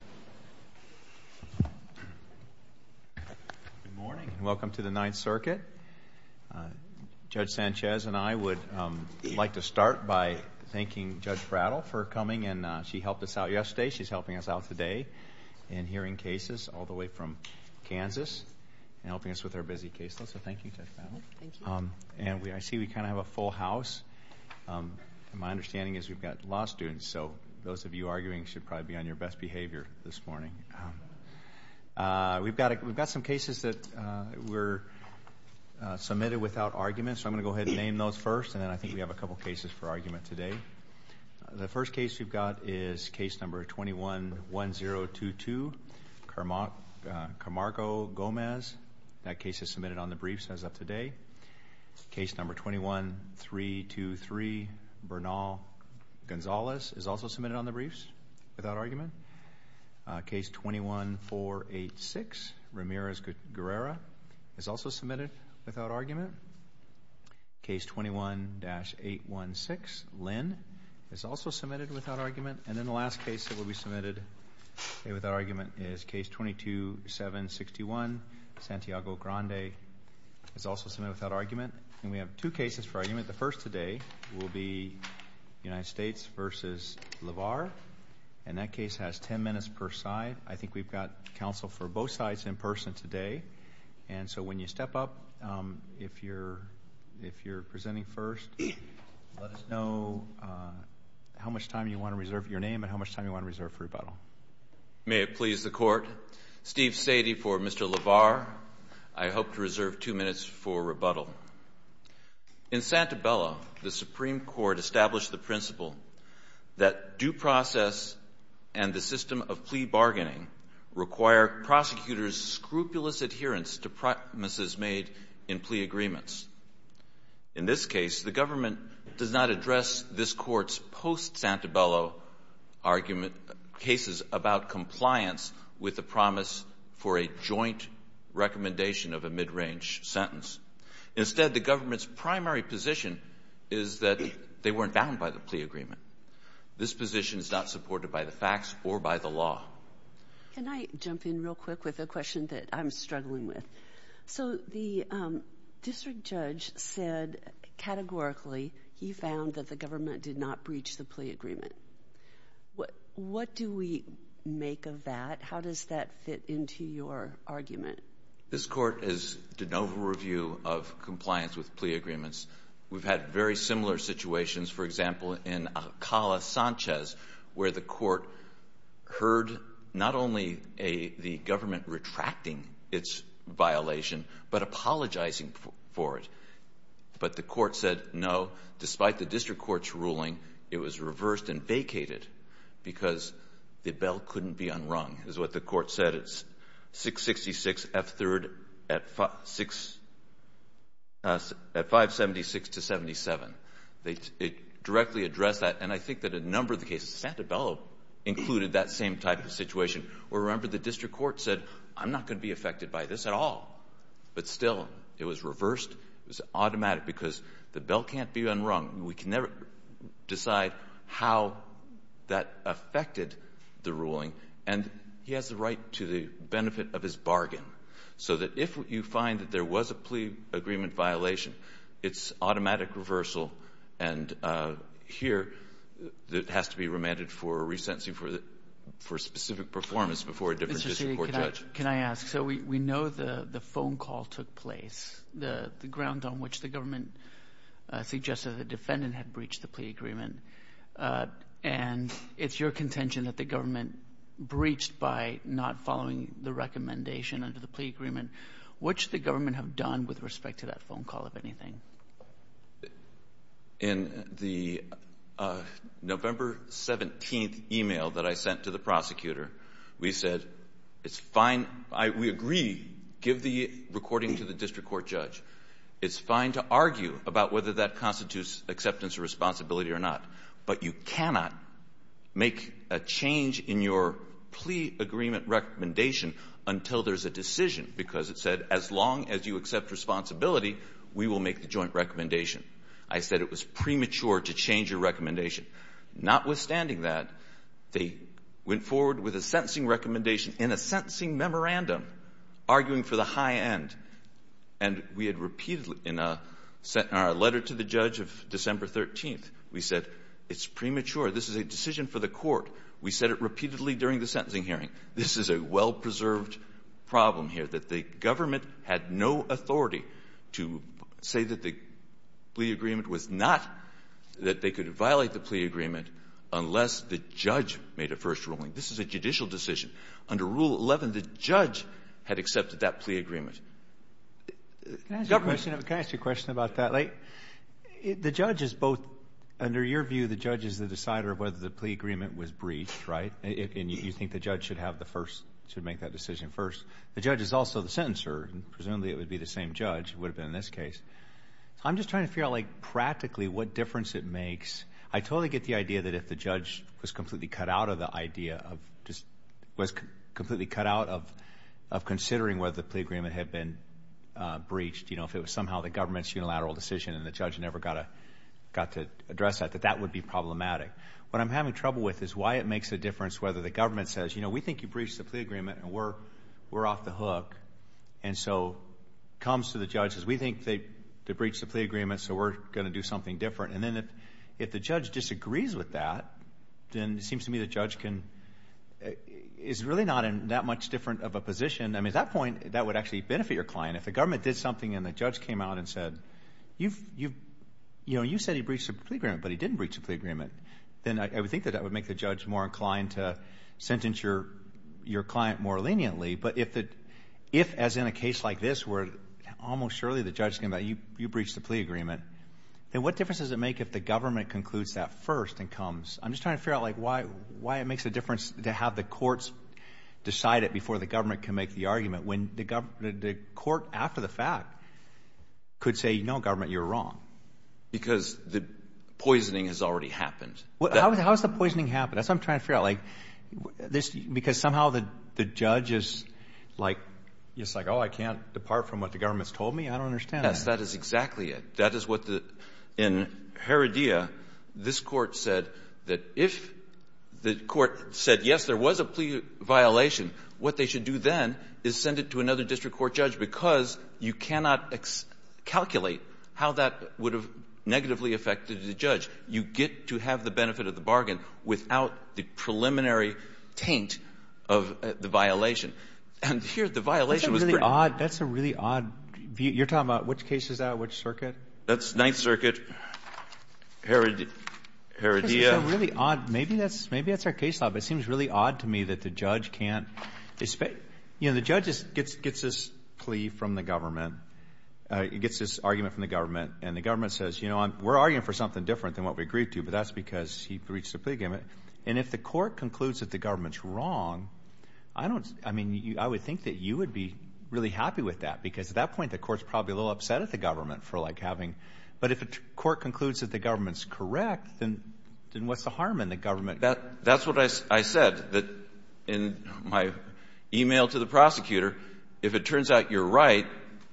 Good morning and welcome to the Ninth Circuit. Judge Sanchez and I would like to start by thanking Judge Prattle for coming and she helped us out yesterday, she's helping us out today in hearing cases all the way from Kansas and helping us with our busy caseload so thank you Judge Prattle. Thank you. And I see we kind of have a full house. My understanding is we've got law students so those of you arguing should probably be on your best behavior this morning. We've got some cases that were submitted without argument so I'm going to go ahead and name those first and then I think we have a couple cases for argument today. The first case we've got is case number 21-1022, Carmargo Gomez. That case is submitted on the briefs. Case number 323, Bernal Gonzalez is also submitted on the briefs without argument. Case 21-486, Ramirez-Guerrera is also submitted without argument. Case 21-816, Lynn is also submitted without argument. And then the last case that will be submitted without argument is case 22-761, Santiago Grande is also submitted without argument. And we have two cases for rebuttal. The first today will be United States v. LaVar and that case has ten minutes per side. I think we've got counsel for both sides in person today and so when you step up, if you're presenting first, let us know how much time you want to reserve your name and how much time you want to reserve for rebuttal. May it please the Court, Steve Sadie for Mr. LaVar. I hope to reserve two minutes for rebuttal. In Santabella, the Supreme Court established the principle that due process and the system of plea bargaining require prosecutors' scrupulous adherence to promises made in plea agreements. In this case, the government does not address this Court's post-Santabella argument cases about compliance with the promise for a joint recommendation of a mid-range sentence. Instead, the government's primary position is that they weren't bound by the plea agreement. This position is not supported by the facts or by the law. Can I jump in real quick with a question that I'm struggling with? So the district judge said categorically he found that the government did not breach the plea agreement. What do we make of that? How does that fit into your argument? This Court has done no review of compliance with plea agreements. We've had very similar situations, for example, in Alcala-Sanchez, where the Court heard not only the government retracting its violation, but apologizing for it. But the Court said no, despite the district court's ruling, it was reversed and vacated because the bell couldn't be unrung, is what the Court said. It's 666 F3rd at 576 to 77. It directly addressed that. And I think that a number of the cases in Santabella included that same type of situation, where, remember, the district court said, I'm not going to be affected by this at all. But still, it was reversed. It was automatic because the bell can't be unrung. We can never decide how that affected the ruling. And he has the right to the benefit of his bargain. So that if you find that there was a plea agreement violation, it's automatic reversal. And here, it has to be remanded for a resentencing for a specific performance before a different district court judge. Kagan. Can I ask? So we know the phone call took place, the ground on which the government suggested the defendant had breached the plea agreement. And it's your contention that the government breached by not following the recommendation under the plea agreement. What should the government have done with respect to that phone call, if anything? In the November 17th email that I sent to the prosecutor, we said, it's fine. We agree. Give the recording to the district court judge. It's fine to argue about whether that constitutes acceptance or responsibility or not. But you cannot make a change in your plea agreement recommendation until there's a decision, because it said, as long as you accept responsibility, we will make the joint recommendation. I said it was premature to change your recommendation. Notwithstanding that, they went forward with a sentencing recommendation in a sentencing memorandum arguing for the high end. And we had repeatedly in a letter to the judge of December 13th, we said, it's premature. This is a decision for the court. We said it repeatedly during the sentencing hearing. This is a well-preserved problem here, that the government had no authority to say that the plea agreement was not that they could violate the plea agreement unless the judge made a first ruling. This is a judicial decision. Under Rule 11, the judge had accepted that plea agreement. Government can ask a question about that. Like, the judge is both under your view, the judge is the decider of whether the plea agreement was breached, right? And you think the judge should have the first... should make that decision first. The judge is also the sentencer. Presumably, it would be the same judge. It would have been in this case. I'm just trying to figure out, like, practically what difference it makes. I totally get the idea that if the judge was completely cut out of the idea of... was completely cut out of considering whether the plea agreement had been breached, you know, if it was somehow the government's unilateral decision and the judge never got to address that, that that would be problematic. What I'm having trouble with is why it makes a difference whether the government says, you know, we think you breached the plea agreement and we're off the hook. And so, it comes to the judges, we think they breached the plea agreement, so we're going to do something different. And then if the judge disagrees with that, then it seems to me the judge can... is really not in that much different of a position. I mean, at that point, that would actually benefit your client. If the government did something and the judge came out and said, you've... you know, you said he breached the plea agreement, but he didn't breach the plea agreement, then I would think that would make the judge more inclined to sentence your client more leniently. But if the... if, as in a case like this, where almost surely the judge is going to say, you breached the plea agreement, then what difference does it make if the government concludes that first and comes... I'm just trying to figure out, like, why it makes a difference to have the courts decide it before the government can make the argument, when the government... the court, after the fact, could say, no, government, you're wrong. Because the poisoning has already happened. How has the poisoning happened? That's what I'm trying to figure out. Like, this... because somehow the judge is, like, just like, oh, I can't depart from what the government's told me? I don't understand. Yes, that is exactly it. That is what the... in Heredia, this Court said that if the Court said, yes, there was a plea violation, what they should do then is send it to another district court judge, because you cannot calculate how that would have negatively affected the judge. You get to have the benefit of the bargain without the preliminary taint of the violation. And here, the violation was... That's a really odd... that's a really odd view. You're talking about which case is that, which circuit? That's Ninth Circuit, Heredia. That's a really odd... maybe that's our case law, but it seems really odd to me that the judge can't... you know, the judge gets this plea from the government, gets this argument from the government, and the government says, you know, we're arguing for something different than what we agreed to, but that's because he reached a plea agreement. And if the Court concludes that the government's wrong, I don't... I mean, I would think that you would be really happy with that, because at that point, the Court's probably a little upset at the government for, like, having... but if the Court concludes that the government's correct, then what's the harm in the government... That's what I said in my email to the prosecutor. If it turns out you're right,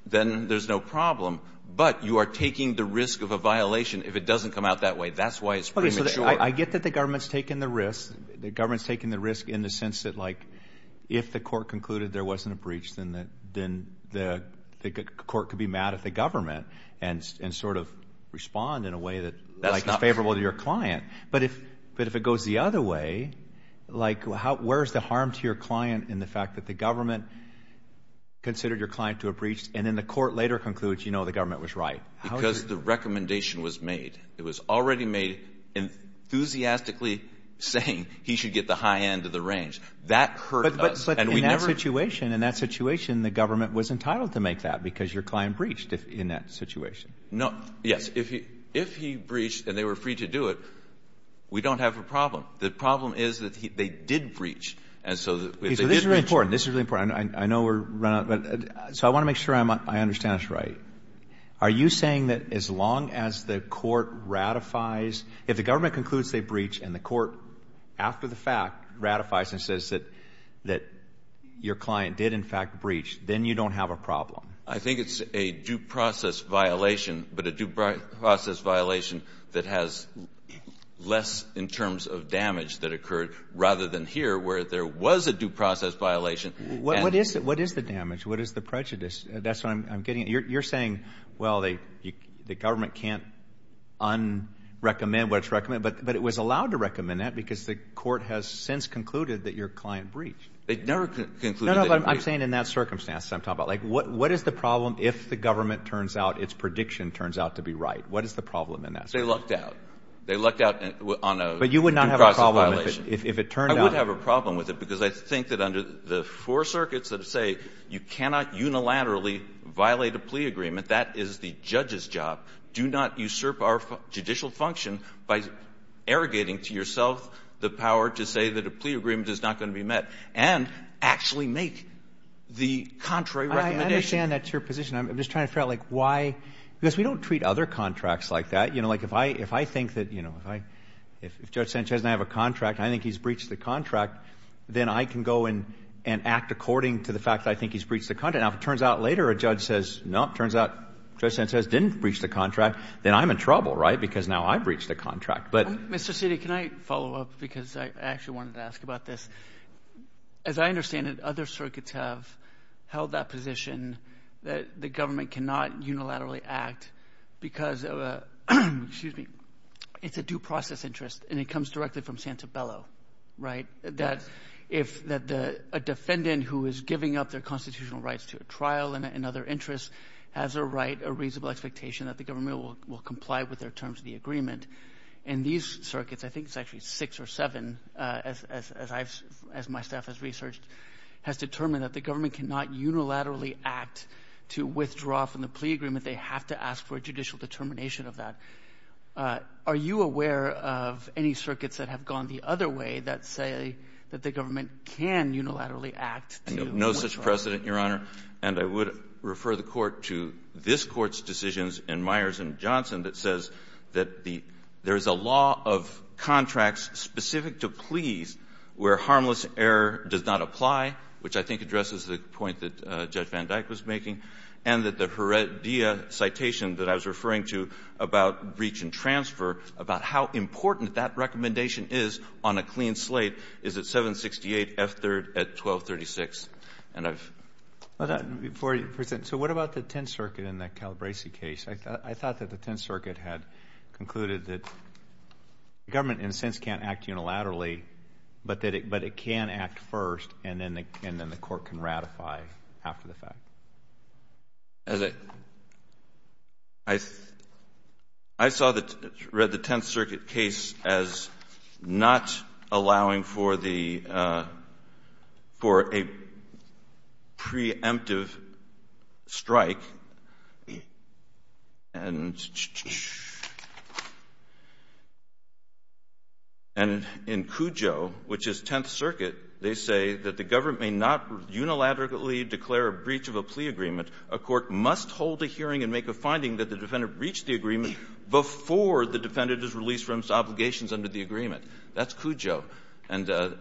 then there's no problem, but you are taking the risk of a violation if it doesn't come out that way. That's why it's pretty much... I get that the government's taking the risk. The government's taking the risk in the sense that, like, if the Court concluded there wasn't a breach, then the Court could be mad at the government and sort of respond in a way that, like, is favorable to your client. But if it goes the other way, like, where's the harm to your client in the fact that the government considered your client to have breached, and then the Court later concludes, you know, the government was right? Because the recommendation was made. It was already made enthusiastically saying he should get the high end of the range. That hurt us, and we never... But in that situation, in that situation, the government was entitled to make that, because your client breached in that situation. No. Yes. If he breached and they were free to do it, we don't have a problem. The problem is that they did breach. And so if they did breach... This is really important. This is really important. I know we're running out of time. So I want to make sure I understand this right. Are you saying that as long as the Court ratifies, if the government concludes they breached and the Court, after the fact, ratifies and says that your client did in fact breach, then you don't have a problem? I think it's a due process violation, but a due process violation that has less in terms of damage that occurred rather than here, where there was a due process violation. What is the damage? What is the prejudice? That's what I'm getting at. You're saying, well, the government can't un-recommend what's recommended, but it was allowed to recommend that because the Court has since concluded that your client breached. They never concluded that... I'm saying in that circumstance that I'm talking about. Like, what is the problem if the government turns out, its prediction turns out to be right? What is the problem in that? They lucked out. They lucked out on a due process violation. But you would not have a problem if it turned out... I would have a problem with it because I think that under the four circuits that say you cannot unilaterally violate a plea agreement, that is the judge's job. Do not usurp our judicial function by arrogating to yourself the power to say that a plea agreement is not going to be met and actually make the contrary recommendation. I understand that's your position. I'm just trying to figure out, like, why? Because we don't treat other contracts like that. You know, like, if I think that, you know, if Judge Sanchez and I have a contract, I think he's breached the contract, then I can go and act according to the fact that I think he's breached the contract. Now, if it turns out later a judge says, no, it turns out Judge Sanchez didn't breach the contract, then I'm in trouble, right, because now I've breached the contract. Mr. Citi, can I follow up because I actually wanted to ask about this? As I understand it, other circuits have held that position that the government cannot unilaterally act because of a, excuse me, it's a due process interest and it comes directly from Santabello, right, that if a defendant who is giving up their constitutional rights to a trial and other interests has a right, a reasonable expectation that the government will comply with their terms of the agreement and these circuits, I think it's actually six or seven, as I've, as my staff has researched, has determined that the government cannot unilaterally act to withdraw from the plea agreement. They have to ask for a judicial determination of that. Are you aware of any circuits that have gone the other way that say that the government can unilaterally act to withdraw? No such precedent, Your Honor, and I would refer the Court to this Court's decisions in Myers and Johnson that says that the, there's a law of contracts specific to pleas where harmless error does not apply, which I think addresses the point that Judge Van Dyck was making, and that the Heredia citation that I was referring to about breach and transfer, about how important that recommendation is on a clean slate, is at 768 F3rd at 1236, and I've. Before you present, so what about the Tenth Circuit in that Calabresi case? I thought that the Tenth Circuit had concluded that the government, in a sense, can't act unilaterally, but that it, but it can act first, and then the, and then the Court can ratify after the fact. As a, I, I saw the, read the Tenth Circuit case as not allowing for the, for a, preemptive strike, and, and in Cujo, which is Tenth Circuit, they say that the government may not unilaterally declare a breach of a plea agreement. A court must hold a hearing and make a finding that the defendant breached the agreement before the defendant is released from its obligations under the agreement. That's Cujo. And so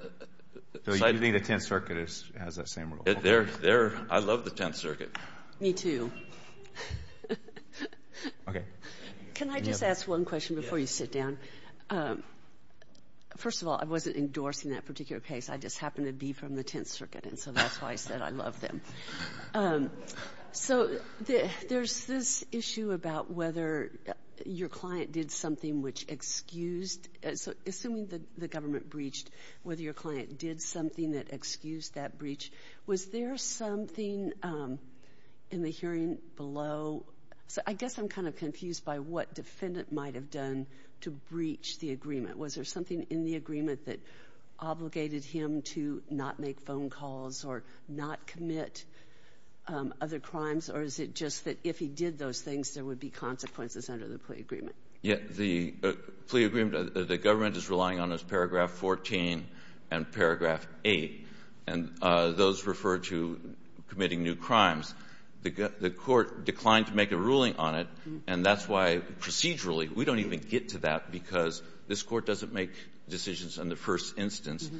I think the Tenth Circuit has that same rule. They're, they're, I love the Tenth Circuit. Me too. Okay. Can I just ask one question before you sit down? First of all, I wasn't endorsing that particular case. I just happened to be from the Tenth Circuit, and so that's why I said I love them. So, there's this issue about whether your client did something which excused, so assuming the, the government breached, whether your client did something that excused that breach, was there something in the hearing below, so I guess I'm kind of confused by what defendant might have done to breach the agreement. Was there something in the agreement that obligated him to not make phone calls or not commit other crimes, or is it just that if he did those things, there would be consequences under the plea agreement? Yeah. The plea agreement, the government is relying on is paragraph 14 and paragraph 8, and those refer to committing new crimes. The court declined to make a ruling on it, and that's why procedurally, we don't even get to that, because this court doesn't make decisions on the first instance.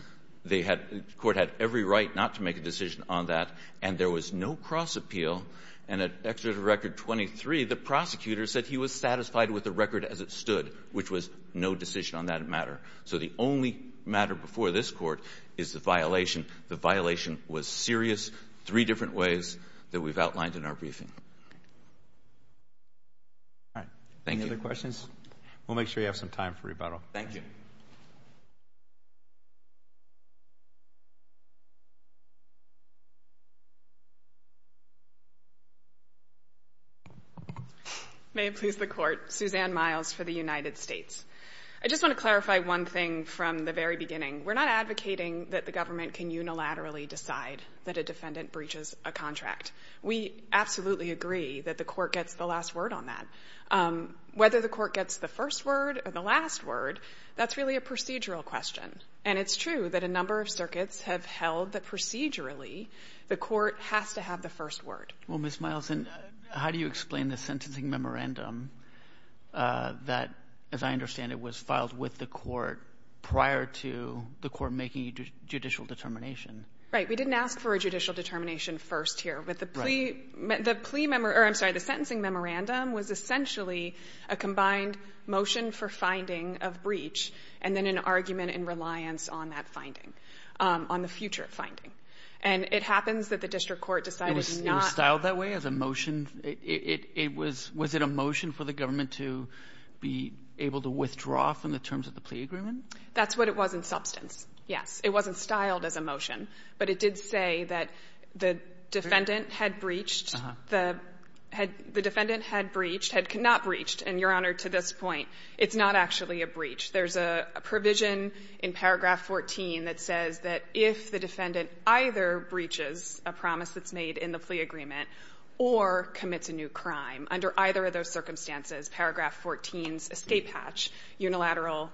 They had, the court had every right not to make a decision on that, and there was no cross-appeal. And at Executive Record 23, the prosecutor said he was satisfied with the record as it stood, which was no decision on that matter. So, the only matter before this court is the violation. The violation was serious, three different ways that we've outlined in our briefing. All right. Thank you. Any other questions? We'll make sure you have some time for rebuttal. Thank you. May it please the Court. Suzanne Miles for the United States. I just want to clarify one thing from the very beginning. We're not advocating that the government can unilaterally decide that a defendant breaches a contract. We absolutely agree that the court gets the last word on that. Whether the court gets the first word or the last word, that's really a procedural question, and it's true that a number of circuits have held that procedurally, the court has to have the first word. Well, Ms. Miles, how do you explain the sentencing memorandum that, as I understand it, was filed with the court prior to the court making a judicial determination? Right. We didn't ask for a judicial determination first here, but the sentencing memorandum was essentially a combined motion for finding of breach and then an argument in reliance on that finding, on the future finding. And it happens that the district court decided not to. It was styled that way as a motion? It was — was it a motion for the government to be able to withdraw from the terms of the plea agreement? That's what it was in substance, yes. It wasn't styled as a motion, but it did say that the defendant had breached — the defendant had breached, had not breached, and, Your Honor, to this point, it's not actually a breach. There's a provision in Paragraph 14 that says that if the defendant either breaches a promise that's made in the plea agreement or commits a new crime, under either of those circumstances, Paragraph 14's escape hatch unilateral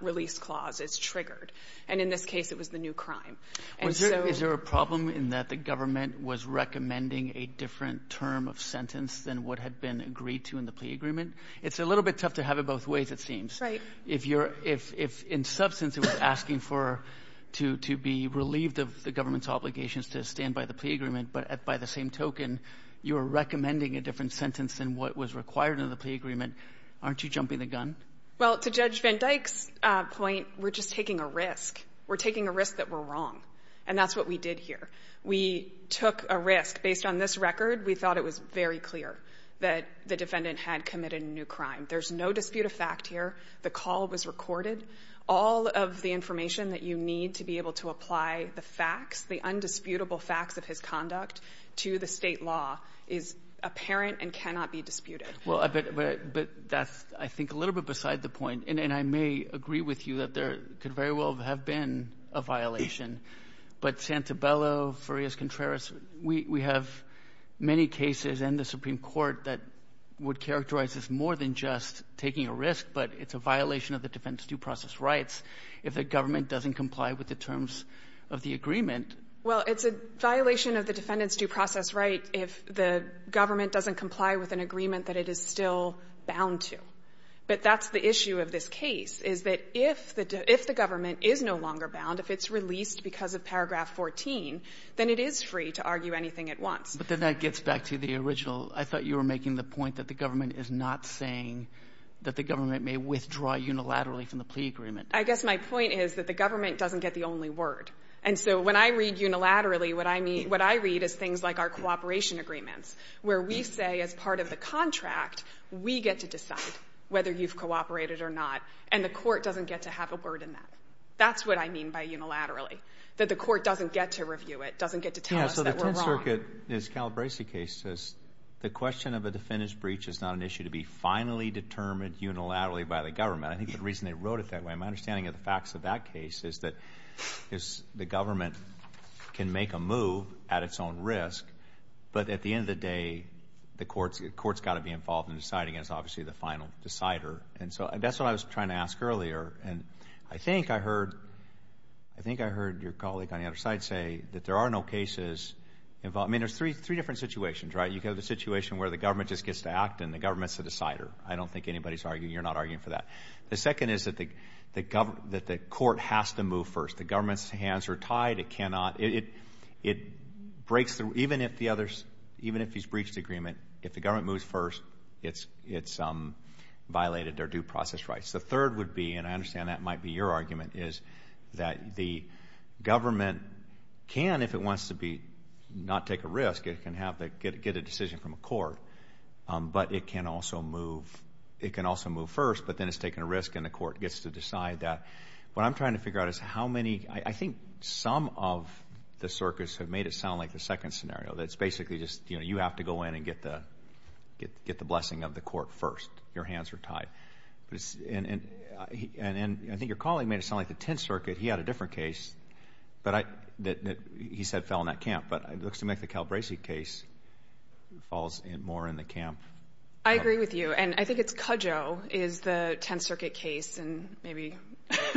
release clause is triggered, and in this case, it was the new crime. And so — Is there a problem in that the government was recommending a different term of sentence than what had been agreed to in the plea agreement? It's a little bit tough to have it both ways, it seems. Right. If you're — if, in substance, it was asking for — to be relieved of the government's obligations to stand by the plea agreement, but by the same token, you were recommending a different sentence than what was required in the plea agreement, aren't you jumping the gun? Well, to Judge Van Dyke's point, we're just taking a risk. We're taking a risk that we're wrong, and that's what we did here. We took a risk. Based on this record, we thought it was very clear that the defendant had committed a new crime. There's no dispute of fact here. The call was recorded. All of the information that you need to be able to apply the facts, the undisputable facts of his conduct to the state law is apparent and cannot be disputed. Well, but that's, I think, a little bit beside the point. And I may agree with you that there could very well have been a violation, but Santabello, Farias Contreras, we have many cases in the Supreme Court that would have said that's a violation of the defendant's due process rights if the government doesn't comply with the terms of the agreement. Well, it's a violation of the defendant's due process right if the government doesn't comply with an agreement that it is still bound to. But that's the issue of this case, is that if the government is no longer bound, if it's released because of paragraph 14, then it is free to argue anything it wants. But then that gets back to the original. I thought you were making the point that the government is not saying that the government may withdraw unilaterally from the plea agreement. I guess my point is that the government doesn't get the only word. And so when I read unilaterally, what I mean, what I read is things like our cooperation agreements, where we say as part of the contract, we get to decide whether you've cooperated or not, and the court doesn't get to have a word in that. That's what I mean by unilaterally, that the court doesn't get to review it, doesn't get to tell us that we're wrong. This Calabresi case, the question of a defendant's breach is not an issue to be finally determined unilaterally by the government. I think the reason they wrote it that way, my understanding of the facts of that case is that the government can make a move at its own risk, but at the end of the day, the court's got to be involved in deciding, and it's obviously the final decider. And so that's what I was trying to ask earlier. And I think I heard, I think I heard your colleague on the other side say that there are no cases involved. I mean, there's three different situations, right? You've got the situation where the government just gets to act and the government's the decider. I don't think anybody's arguing. You're not arguing for that. The second is that the court has to move first. The government's hands are tied. It cannot, it breaks through, even if the other, even if he's breached the agreement, if the government moves first, it's violated their due process rights. The third would be, and I understand that might be your argument, is that the government can, if it wants to be, not take a risk, it can get a decision from a court, but it can also move, it can also move first, but then it's taking a risk and the court gets to decide that. What I'm trying to figure out is how many, I think some of the circuits have made it sound like the second scenario, that it's basically just, you know, you have to go in and get the blessing of the court first. Your hands are tied. And I think your colleague made it sound like the Tenth Circuit, he had a different case, that he said fell in that camp, but it looks to me like the Calabresi case falls more in the camp. I agree with you. And I think it's Cudjoe is the Tenth Circuit case, and maybe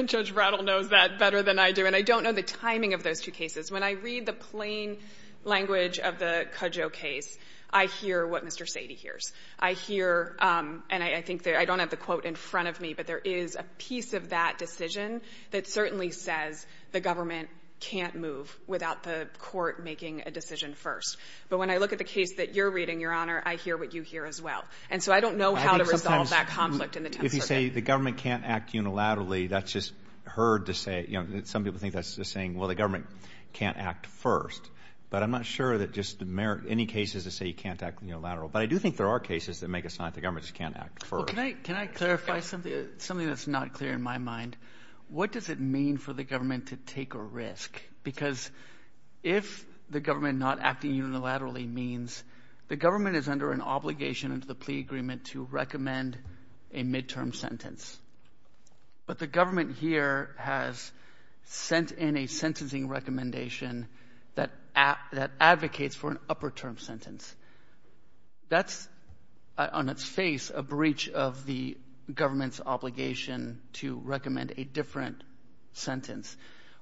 Judge Rattle knows that better than I do, and I don't know the timing of those two cases. When I read the plain language of the Cudjoe case, I hear what Mr. Sady hears. I hear, and I think that I don't have the quote in front of me, but there is a piece of that decision that certainly says the government can't move without the court making a decision first. But when I look at the case that you're reading, Your Honor, I hear what you hear as well. And so I don't know how to resolve that conflict in the Tenth Circuit. If you say the government can't act unilaterally, that's just heard to say, you know, some people think that's just saying, well, the government can't act first. But I'm not sure that just any cases to say you can't act unilaterally. But I do think there are cases that make it sound like the government just can't act first. Well, can I clarify something that's not clear in my mind? What does it mean for the government to take a risk? Because if the government not acting unilaterally means the government is under an obligation under the plea agreement to recommend a midterm sentence. But the government here has sent in a sentencing recommendation that advocates for an upper term sentence. That's on its face a breach of the government's obligation to recommend a different sentence.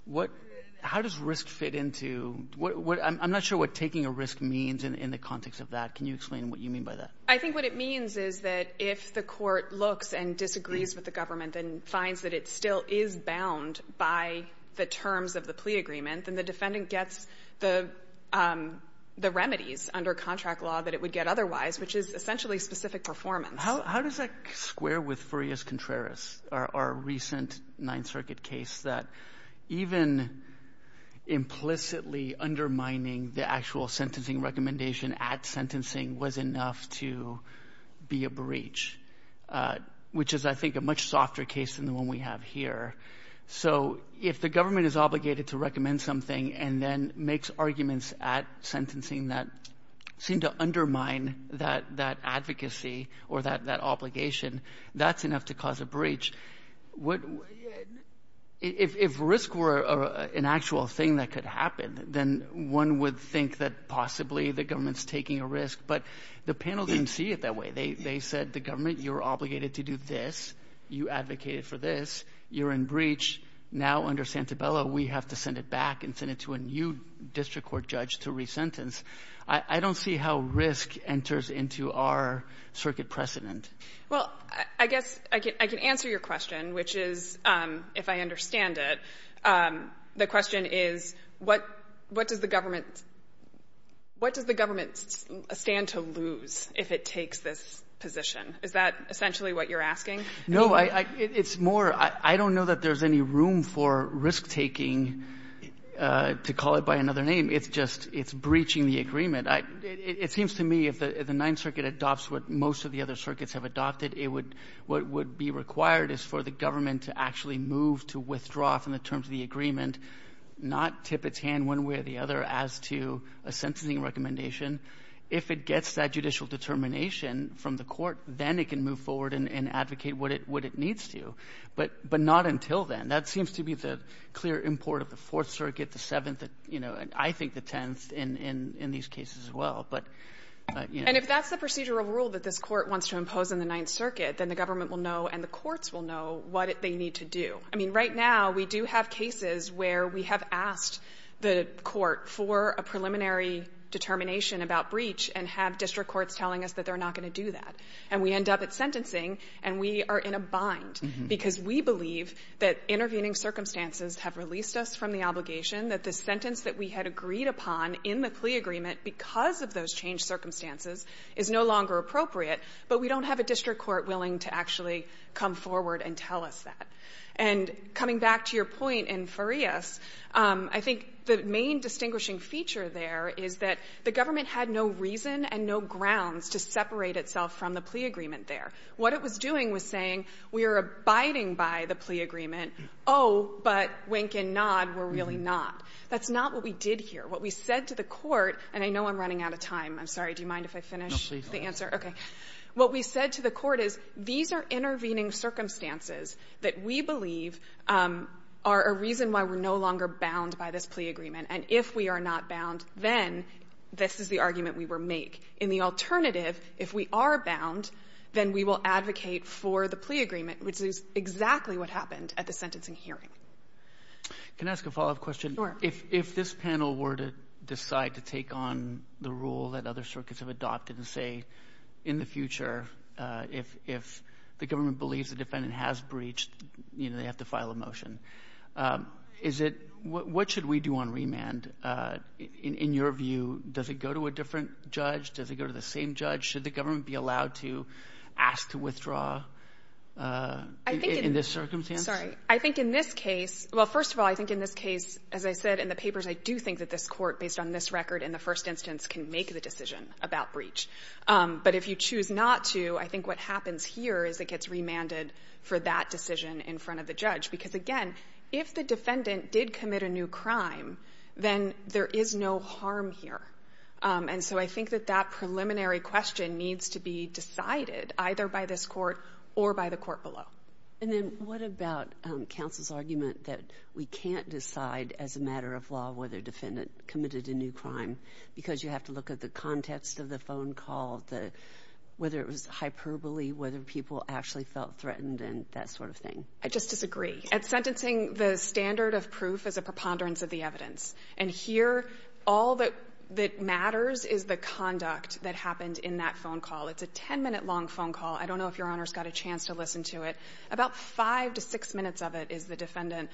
What — how does risk fit into — I'm not sure what taking a risk means in the context of that. Can you explain what you mean by that? I think what it means is that if the court looks and disagrees with the government and finds that it still is bound by the terms of the plea agreement, then the defendant gets the remedies under contract law that it would get otherwise, which is essentially specific performance. How does that square with Furias-Contreras, our recent Ninth Circuit case, that even implicitly undermining the actual sentencing recommendation at sentencing was enough to be a breach? Which is, I think, a much softer case than the one we have here. So if the government is obligated to recommend something and then makes arguments at sentencing that seem to undermine that advocacy or that obligation, that's enough to cause a breach. If risk were an actual thing that could happen, then one would think that possibly the government's taking a risk. But the panel didn't see it that way. They said, the government, you're obligated to do this. You advocated for this. You're in breach. Now, under Santabella, we have to send it back and send it to a new district court judge to re-sentence. I don't see how risk enters into our circuit precedent. Well, I guess I can answer your question, which is, if I understand it, the question is, what does the government stand to lose if it takes this position? Is that essentially what you're asking? No, it's more, I don't know that there's any room for risk-taking, to call it by another name. It's just, it's breaching the agreement. It seems to me, if the Ninth Circuit adopts what most of the other circuits have adopted, it would, what would be required is for the government to actually move to withdraw from the terms of the agreement, not tip its hand one way or the other as to a sentencing recommendation. If it gets that judicial determination from the court, then it can move forward and advocate what it needs to, but not until then. That seems to be the clear import of the Fourth Circuit, the Seventh, you know, and I think the Tenth in these cases as well. And if that's the procedural rule that this court wants to impose in the Ninth Circuit, then the government will know and the courts will know what they need to do. I mean, right now, we do have cases where we have asked the court for a preliminary determination about breach and have district courts telling us that they're not going to do that. And we end up at sentencing and we are in a bind because we believe that intervening circumstances have released us from the obligation, that the sentence that we had agreed upon in the plea agreement because of those changed circumstances is no longer appropriate, but we don't have a district court willing to actually come forward and tell us that. And coming back to your point in Farias, I think the main distinguishing feature there is that the government had no reason and no grounds to separate itself from the plea agreement there. What it was doing was saying we are abiding by the plea agreement, oh, but, wink and nod, we're really not. That's not what we did here. What we said to the court, and I know I'm running out of time. I'm sorry. Do you mind if I finish the answer? Roberts, what we said to the court is these are intervening circumstances that we believe are a reason why we're no longer bound by this plea agreement. And if we are not bound, then this is the argument we will make. In the alternative, if we are bound, then we will advocate for the plea agreement, which is exactly what happened at the sentencing hearing. Can I ask a follow-up question? Sure. If this panel were to decide to take on the rule that other circuits have adopted and say in the future, if the government believes the defendant has breached, you know, they have to file a motion, is it, what should we do on remand? In your view, does it go to a different judge? Does it go to the same judge? Should the government be allowed to ask to withdraw in this circumstance? Sorry. I think in this case, well, first of all, I think in this case, as I said in the papers, I do think that this court, based on this record in the first instance, can make the decision about breach. But if you choose not to, I think what happens here is it gets remanded for that decision in front of the judge. Because again, if the defendant did commit a new crime, then there is no harm here. And so I think that that preliminary question needs to be decided either by this court or by the court below. And then what about counsel's argument that we can't decide as a matter of law whether a defendant committed a new crime because you have to look at the context of the phone call, whether it was hyperbole, whether people actually felt threatened and that sort of thing? I just disagree. At sentencing, the standard of proof is a preponderance of the evidence. And here, all that matters is the conduct that happened in that phone call. It's a ten-minute-long phone call. I don't know if Your Honor's got a chance to listen to it. About five to six minutes of it is the defendant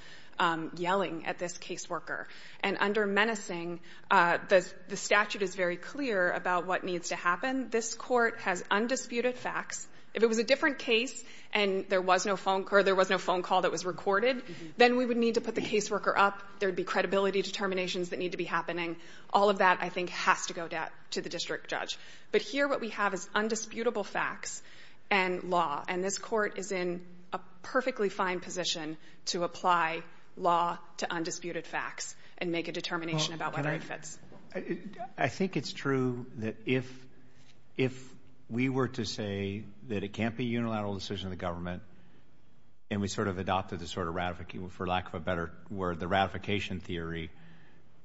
yelling at this caseworker. And under menacing, the statute is very clear about what needs to happen. This court has undisputed facts. If it was a different case and there was no phone call that was recorded, then we would need to put the caseworker up. There'd be credibility determinations that need to be happening. All of that, I think, has to go to the district judge. But here, what we have is undisputable facts and law. And this court is in a perfectly fine position to apply law to undisputed facts and make a determination about whether it fits. I think it's true that if we were to say that it can't be a unilateral decision of the government, and we sort of adopted the sort of ratification, for lack of a better word, the ratification theory,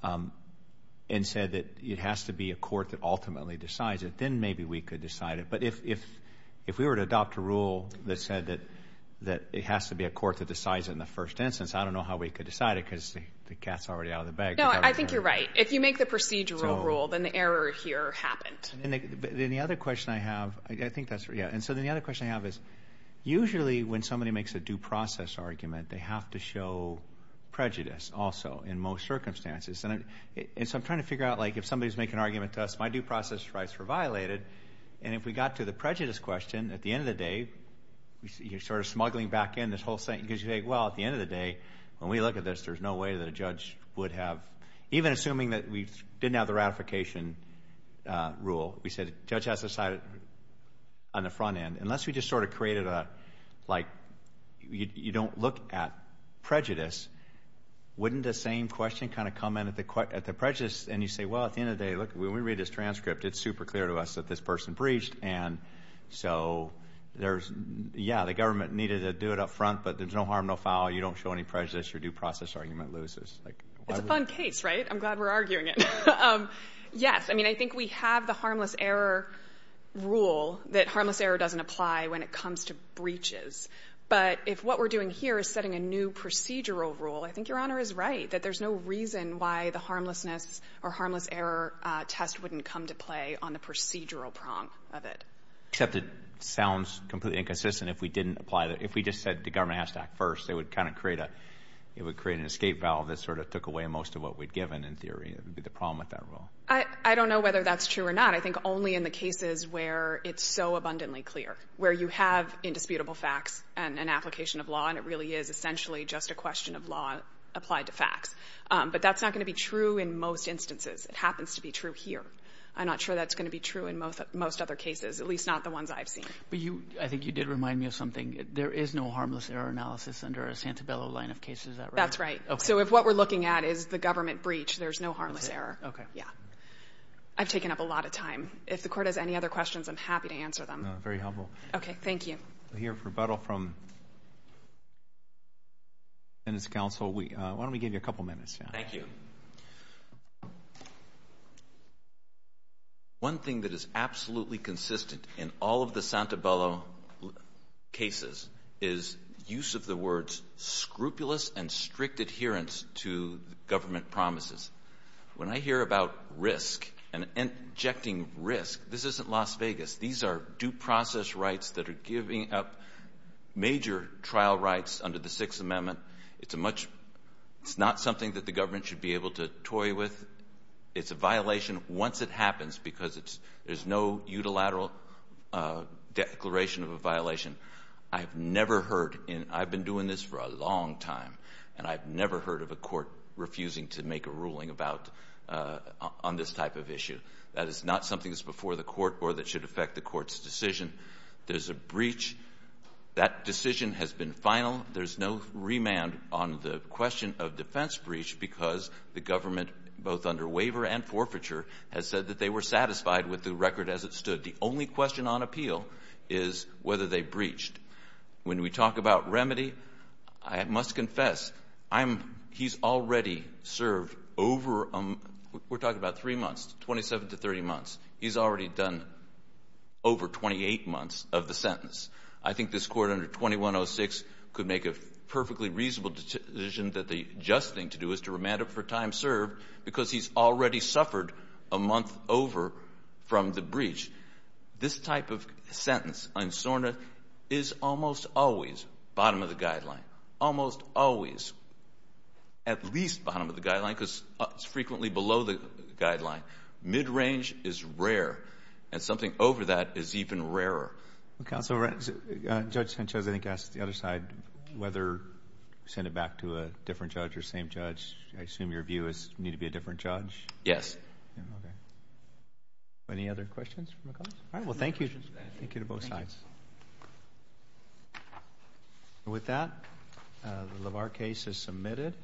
and said that it has to be a court that ultimately decides it, then maybe we could decide it. But if we were to adopt a rule that said that it has to be a court that decides it in the first instance, I don't know how we could decide it because the cat's already out of the bag. No, I think you're right. If you make the procedural rule, then the error here happened. And then the other question I have, I think that's right, yeah. And so then the other question I have is, usually when somebody makes a due process argument, they have to show prejudice also in most circumstances. And so I'm trying to figure out, like, if somebody's making an argument to us, my due process rights were violated. And if we got to the prejudice question, at the end of the day, you're sort of smuggling back in this whole thing because you think, well, at the end of the day, when we look at this, there's no way that a judge would have, even assuming that we didn't have the ratification rule, we said, judge has to decide it on the front end. Unless we just sort of created a, like, you don't look at prejudice, wouldn't the same question kind of come in at the prejudice? And you say, well, at the end of the day, look, when we read this transcript, it's super clear to us that this person breached. And so there's, yeah, the government needed to do it up front, but there's no harm, no foul. You don't show any prejudice, your due process argument loses. It's a fun case, right? I'm glad we're arguing it. Yes, I mean, I think we have the harmless error rule, that harmless error doesn't apply when it comes to breaches. But if what we're doing here is setting a new procedural rule, I think Your Honor is right, that there's no reason why the harmlessness or harmless error test wouldn't come to play on the procedural prong of it. Except it sounds completely inconsistent if we didn't apply that. If we just said the government has to act first, they would kind of create a, it would create an escape valve that sort of took away most of what we'd given in theory. It would be the problem with that rule. I don't know whether that's true or not. I think only in the cases where it's so abundantly clear, where you have indisputable facts and an application of law, and it really is essentially just a question of law applied to facts. But that's not going to be true in most instances. It happens to be true here. I'm not sure that's going to be true in most other cases, at least not the ones I've seen. But you, I think you did remind me of something. There is no harmless error analysis under a Santabello line of cases, is that right? That's right. Okay. So if what we're looking at is the government breach, there's no harmless error. Okay. Yeah. I've taken up a lot of time. If the Court has any other questions, I'm happy to answer them. No, very helpful. Okay, thank you. We'll hear rebuttal from the Senate's counsel. Why don't we give you a couple minutes? Thank you. One thing that is absolutely consistent in all of the Santabello cases is use of the words scrupulous and strict adherence to government promises. When I hear about risk and injecting risk, this isn't Las Vegas. These are due process rights that are giving up major trial rights under the Sixth Amendment. It's a much, it's not something that the government should be able to toy with. It's a violation once it happens because there's no unilateral declaration of a violation. I've never heard, and I've been doing this for a long time, and I've never heard of a court refusing to make a ruling about, on this type of issue. That is not something that's before the court or that should affect the court's decision. There's a breach. That decision has been final. There's no remand on the question of defense breach because the government, both under waiver and forfeiture, has said that they were satisfied with the record as it stood. The only question on appeal is whether they breached. When we talk about remedy, I must confess, I'm, he's already served over, we're talking about three months, 27 to 30 months. He's already done over 28 months of the sentence. I think this court under 2106 could make a perfectly reasonable decision that the just thing to do is to remand him for time served because he's already suffered a month over from the breach. This type of sentence in SORNA is almost always bottom of the guideline, almost always, at least bottom of the guideline because it's frequently below the guideline. Mid-range is rare, and something over that is even rarer. Counsel, Judge Sanchez, I think, asked the other side whether send it back to a different judge or same judge. I assume your view is need to be a different judge? Yes. Okay. Any other questions from the college? All right, well, thank you. Thank you to both sides. With that, the LaVar case is submitted.